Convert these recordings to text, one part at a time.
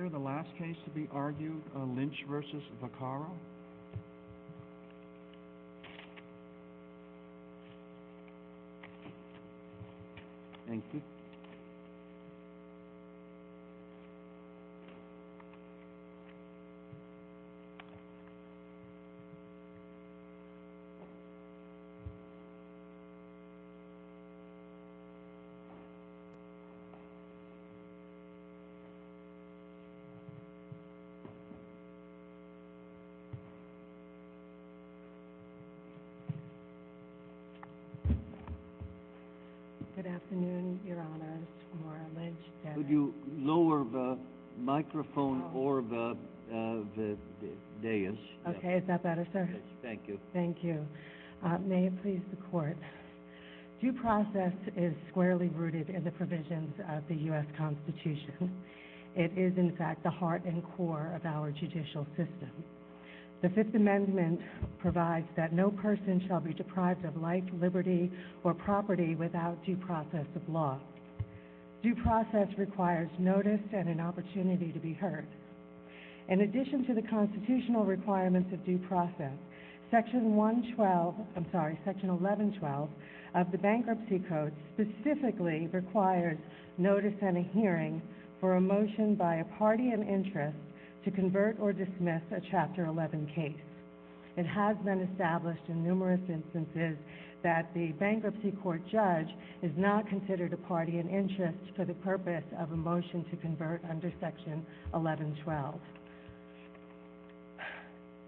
Here the last case to be argued, Lynch v. Vaccaro. May it please the Court, due process is squarely rooted in the provisions of the U.S. Constitution. It is, in fact, the heart and core of our judicial system. The Fifth Amendment provides that no person shall be deprived of life, liberty, or property without due process of law. Due process requires notice and an opportunity to be heard. In addition to the constitutional requirements of due process, Section 1112 of the Bankruptcy Code specifically requires notice and a hearing for a motion by a party in interest to convert or dismiss a Chapter 11 case. It has been established in numerous instances that the bankruptcy court judge is not considered a party in interest for the purpose of a motion to convert under Section 1112.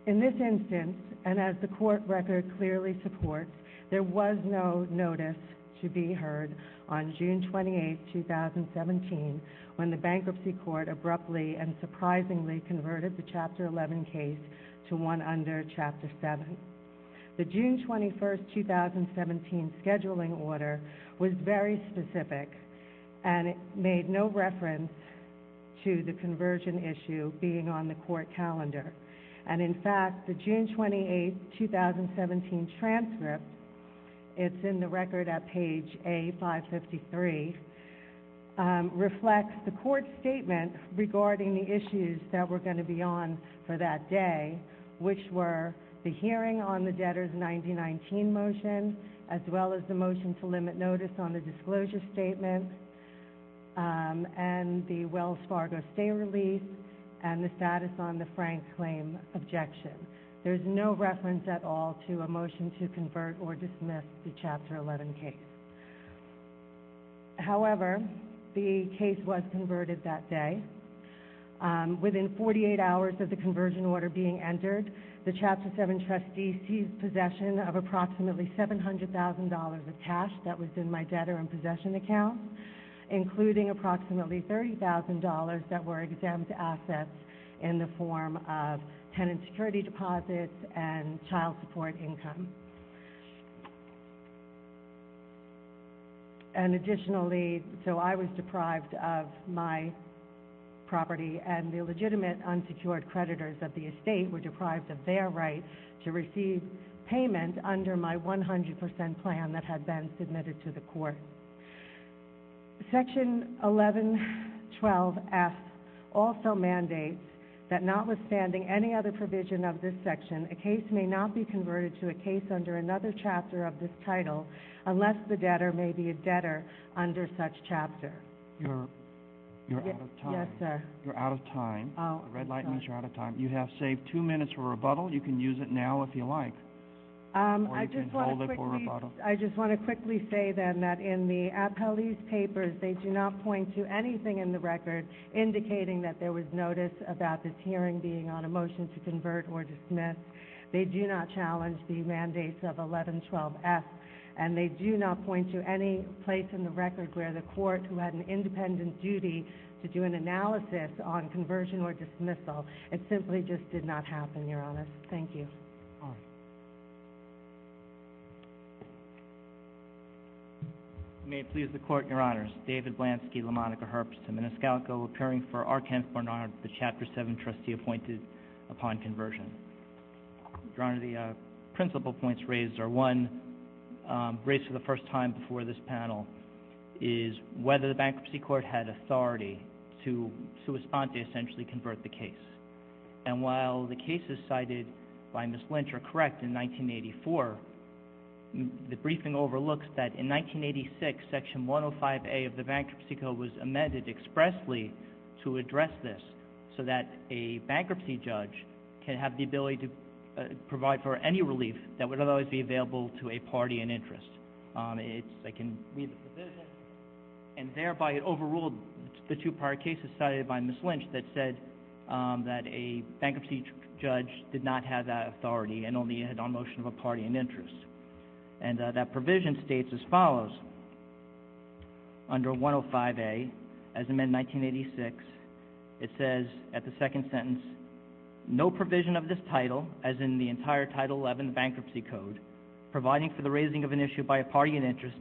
In this instance, and as the Court record clearly supports, there was no notice to be heard on June 28, 2017, when the bankruptcy court abruptly and surprisingly converted the Chapter 11 case to one under Chapter 7. The June 21, 2017, scheduling order was very specific and made no reference to the conversion issue being on the Court calendar. And, in fact, the June 28, 2017 transcript, it's in the record at page A553, reflects the Court's statement regarding the issues that were going to be on for that day, which were the hearing on the debtors' 1919 motion, as well as the motion to limit notice on the disclosure statement, and the Wells Fargo stay release, and the status on the Frank claim objection. There's no reference at all to a motion to convert or dismiss the Chapter 11 case. However, the case was converted that day. Within 48 hours of the conversion order being entered, the Chapter 7 trustee seized possession of approximately $700,000 of cash that was in my debtor and possession account, including approximately $30,000 that were exempt assets in the form of tenant security deposits and child support income. And additionally, so I was deprived of my property, and the legitimate unsecured creditors of the estate were deprived of their right to receive payment under my 100% plan that had been submitted to the Court. Section 1112F also mandates that notwithstanding any other provision of this section, a case may not be converted to a case under another Chapter of this Title unless the debtor may be a debtor under such Chapter. You're out of time. Yes, sir. You're out of time. The red light means you're out of time. You have saved two minutes for rebuttal. You can use it now if you like. Or you can hold it for rebuttal. I just want to quickly say, then, that in the appellee's papers, they do not point to anything in the record indicating that there was notice about this hearing being on a motion to convert or dismiss. They do not challenge the mandates of 1112F. And they do not point to any place in the record where the Court, who had an independent duty to do an analysis on conversion or dismissal, it simply just did not happen, Your Honor. Thank you. Your Honor. May it please the Court, Your Honors. David Blansky, LaMonica Herbst, and Menescalco, appearing for Arkan for an honor of the Chapter 7 trustee appointed upon conversion. Your Honor, the principal points raised are one, raised for the first time before this panel, is whether the Bankruptcy Court had authority to, sous-spente, essentially convert the case. And while the cases cited by Ms. Lynch are correct, in 1984, the briefing overlooks that in 1986, Section 105A of the Bankruptcy Code was amended expressly to address this so that a bankruptcy judge can have the ability to provide for any relief that would otherwise be available to a party in interest. I can read the provision. And thereby it overruled the two prior cases cited by Ms. Lynch that said that a bankruptcy judge did not have that authority and only had it on motion of a party in interest. And that provision states as follows. Under 105A, as amended in 1986, it says at the second sentence, no provision of this title, as in the entire Title 11 Bankruptcy Code, providing for the raising of an issue by a party in interest,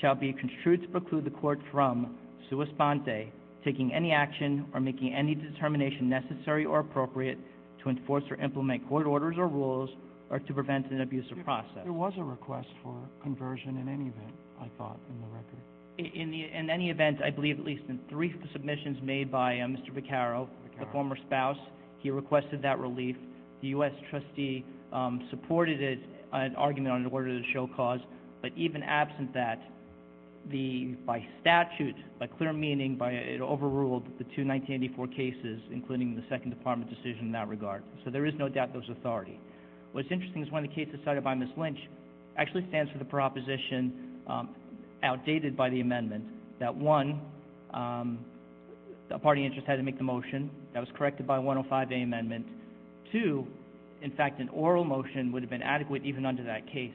shall be construed to preclude the court from, sous-spente, taking any action or making any determination necessary or appropriate to enforce or implement court orders or rules or to prevent an abusive process. There was a request for conversion in any event, I thought, in the record. In any event, I believe at least in three submissions made by Mr. Vaccaro, the former spouse, he requested that relief. The U.S. trustee supported it, an argument on an order to show cause. But even absent that, by statute, by clear meaning, it overruled the two 1984 cases, including the Second Department decision in that regard. So there is no doubt there was authority. What's interesting is one of the cases cited by Ms. Lynch actually stands for the proposition, outdated by the amendment, that one, a party in interest had to make the motion. That was corrected by 105A amendment. Two, in fact, an oral motion would have been adequate even under that case.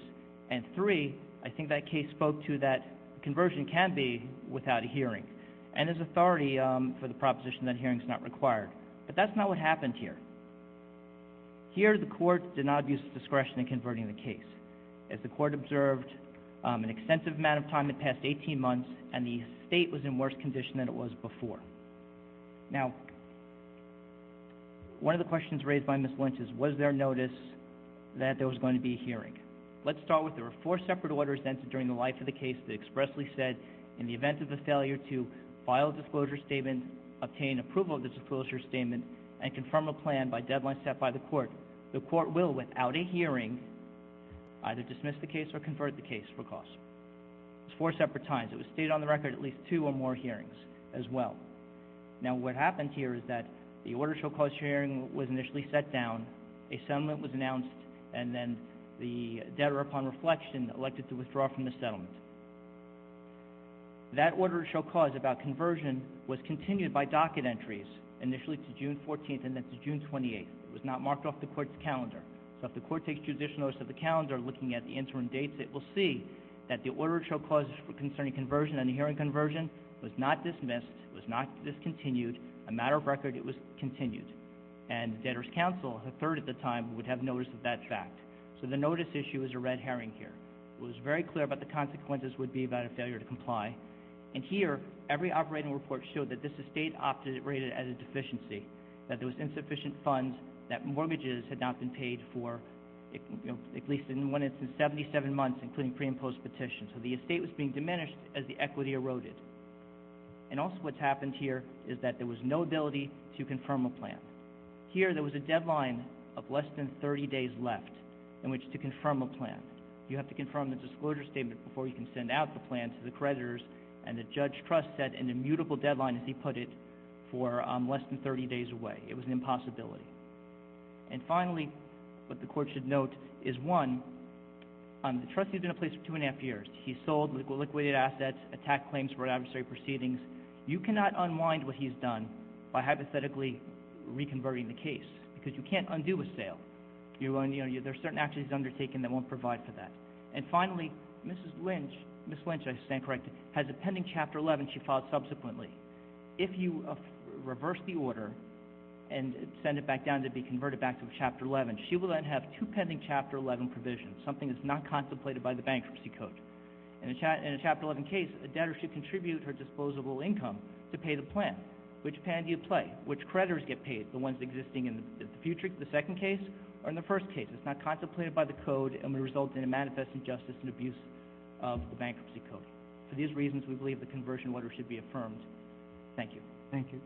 And three, I think that case spoke to that conversion can be without a hearing. And there's authority for the proposition that a hearing is not required. But that's not what happened here. Here, the court did not abuse its discretion in converting the case. As the court observed, an extensive amount of time had passed, 18 months, and the state was in worse condition than it was before. Now, one of the questions raised by Ms. Lynch is, was there notice that there was going to be a hearing? Let's start with there were four separate orders entered during the life of the case that expressly said, in the event of the failure to file a disclosure statement, obtain approval of the disclosure statement, and confirm a plan by deadline set by the court, the court will, without a hearing, either dismiss the case or convert the case for cost. It was four separate times. It was stated on the record at least two or more hearings as well. Now, what happened here is that the order shall cause hearing was initially set down, a settlement was announced, and then the debtor, upon reflection, elected to withdraw from the settlement. That order shall cause about conversion was continued by docket entries initially to June 14th and then to June 28th. It was not marked off the court's calendar. So if the court takes judicial notice of the calendar looking at the interim dates, it will see that the order shall cause concerning conversion and hearing conversion was not dismissed, was not discontinued. A matter of record, it was continued. And the debtor's counsel, a third at the time, would have notice of that fact. So the notice issue is a red herring here. It was very clear about the consequences would be about a failure to comply. And here, every operating report showed that this estate opted to rate it as a deficiency, that there was insufficient funds, that mortgages had not been paid for at least in one instance 77 months, including pre- and post-petition. So the estate was being diminished as the equity eroded. And also what's happened here is that there was no ability to confirm a plan. Here, there was a deadline of less than 30 days left in which to confirm a plan. You have to confirm the disclosure statement before you can send out the plan to the creditors, and the judge trust set an immutable deadline, as he put it, for less than 30 days away. It was an impossibility. And finally, what the court should note is, one, the trustee has been in place for two and a half years. He sold liquidated assets, attacked claims for adversary proceedings. You cannot unwind what he's done by hypothetically reconverting the case, because you can't undo a sale. There are certain actions he's undertaken that won't provide for that. And finally, Mrs. Lynch, I stand corrected, has a pending Chapter 11 she filed subsequently. If you reverse the order and send it back down to be converted back to Chapter 11, she will then have two pending Chapter 11 provisions, something that's not contemplated by the bankruptcy code. In a Chapter 11 case, a debtor should contribute her disposable income to pay the plan. Which plan do you play? Which creditors get paid, the ones existing in the future, the second case, or in the first case? It's not contemplated by the code and would result in a manifest injustice and abuse of the bankruptcy code. For these reasons, we believe the conversion order should be affirmed. Thank you. Thank you.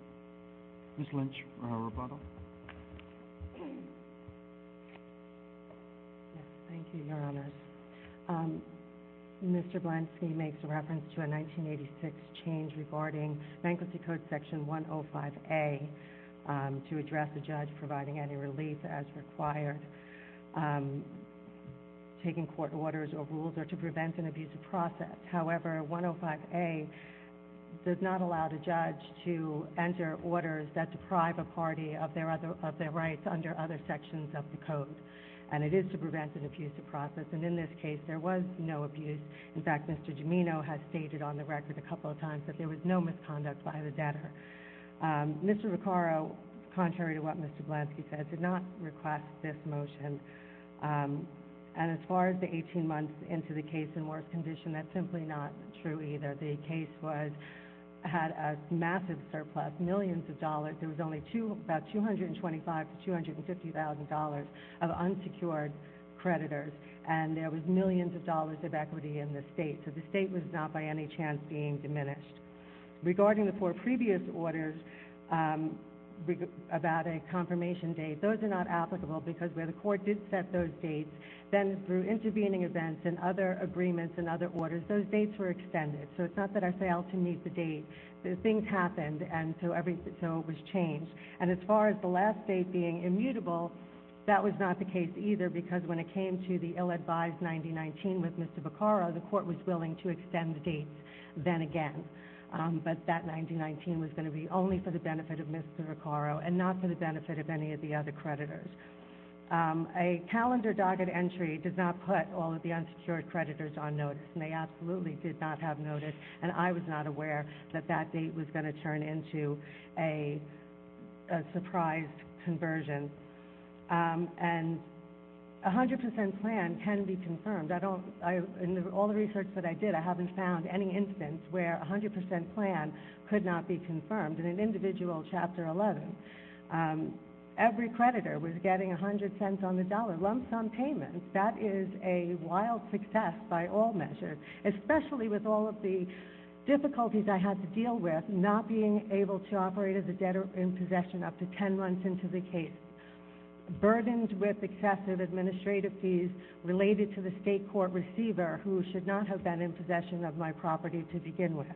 Mrs. Lynch for her rebuttal. Thank you, Your Honors. Mr. Blansky makes reference to a 1986 change regarding Bankruptcy Code Section 105A to address the judge providing any relief as required, taking court orders or rules, or to prevent an abusive process. However, 105A does not allow the judge to enter orders that deprive a party of their rights under other sections of the code. And it is to prevent an abusive process. And in this case, there was no abuse. In fact, Mr. Gimeno has stated on the record a couple of times that there was no misconduct by the debtor. Mr. Recaro, contrary to what Mr. Blansky said, did not request this motion. And as far as the 18 months into the case in worse condition, that's simply not true either. The case had a massive surplus, millions of dollars. There was only about $225,000 to $250,000 of unsecured creditors. And there was millions of dollars of equity in the state. So the state was not by any chance being diminished. Regarding the four previous orders about a confirmation date, those are not applicable because where the court did set those dates, then through intervening events and other agreements and other orders, those dates were extended. So it's not that I failed to meet the date. Things happened, and so it was changed. And as far as the last date being immutable, that was not the case either because when it came to the ill-advised 9019 with Mr. Recaro, the court was willing to extend the dates then again. But that 9019 was going to be only for the benefit of Mr. Recaro and not for the benefit of any of the other creditors. A calendar docket entry does not put all of the unsecured creditors on notice, and they absolutely did not have notice. And I was not aware that that date was going to turn into a surprise conversion. And a 100 percent plan can be confirmed. In all the research that I did, I haven't found any instance where a 100 percent plan could not be confirmed. In an individual Chapter 11, every creditor was getting 100 cents on the dollar, lumps on payments. That is a wild success by all measures, especially with all of the difficulties I had to deal with, not being able to operate as a debtor in possession up to 10 months into the case, burdened with excessive administrative fees related to the state court receiver who should not have been in possession of my property to begin with.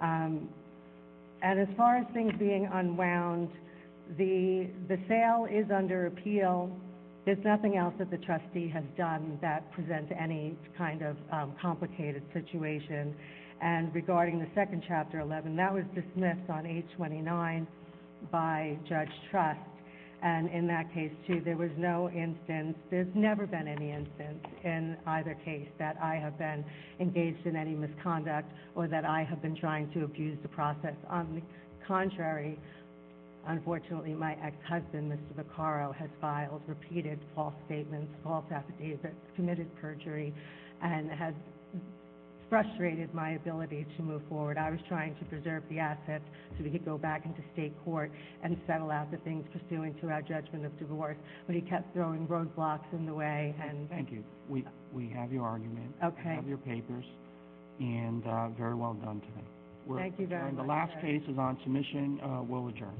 And as far as things being unwound, the sale is under appeal. There's nothing else that the trustee has done that presents any kind of complicated situation. And regarding the second Chapter 11, that was dismissed on 829 by Judge Trust. And in that case, too, there was no instance, there's never been any instance in either case that I have been engaged in any misconduct or that I have been trying to abuse the process. On the contrary, unfortunately, my ex-husband, Mr. Vaccaro, has filed repeated false statements, false affidavits, committed perjury, and has frustrated my ability to move forward. I was trying to preserve the assets so we could go back into state court and settle out the things pursuant to our judgment of divorce, but he kept throwing roadblocks in the way. Thank you. We have your argument. Okay. We have your papers. And very well done today. Thank you very much. And the last case is on submission. We'll adjourn.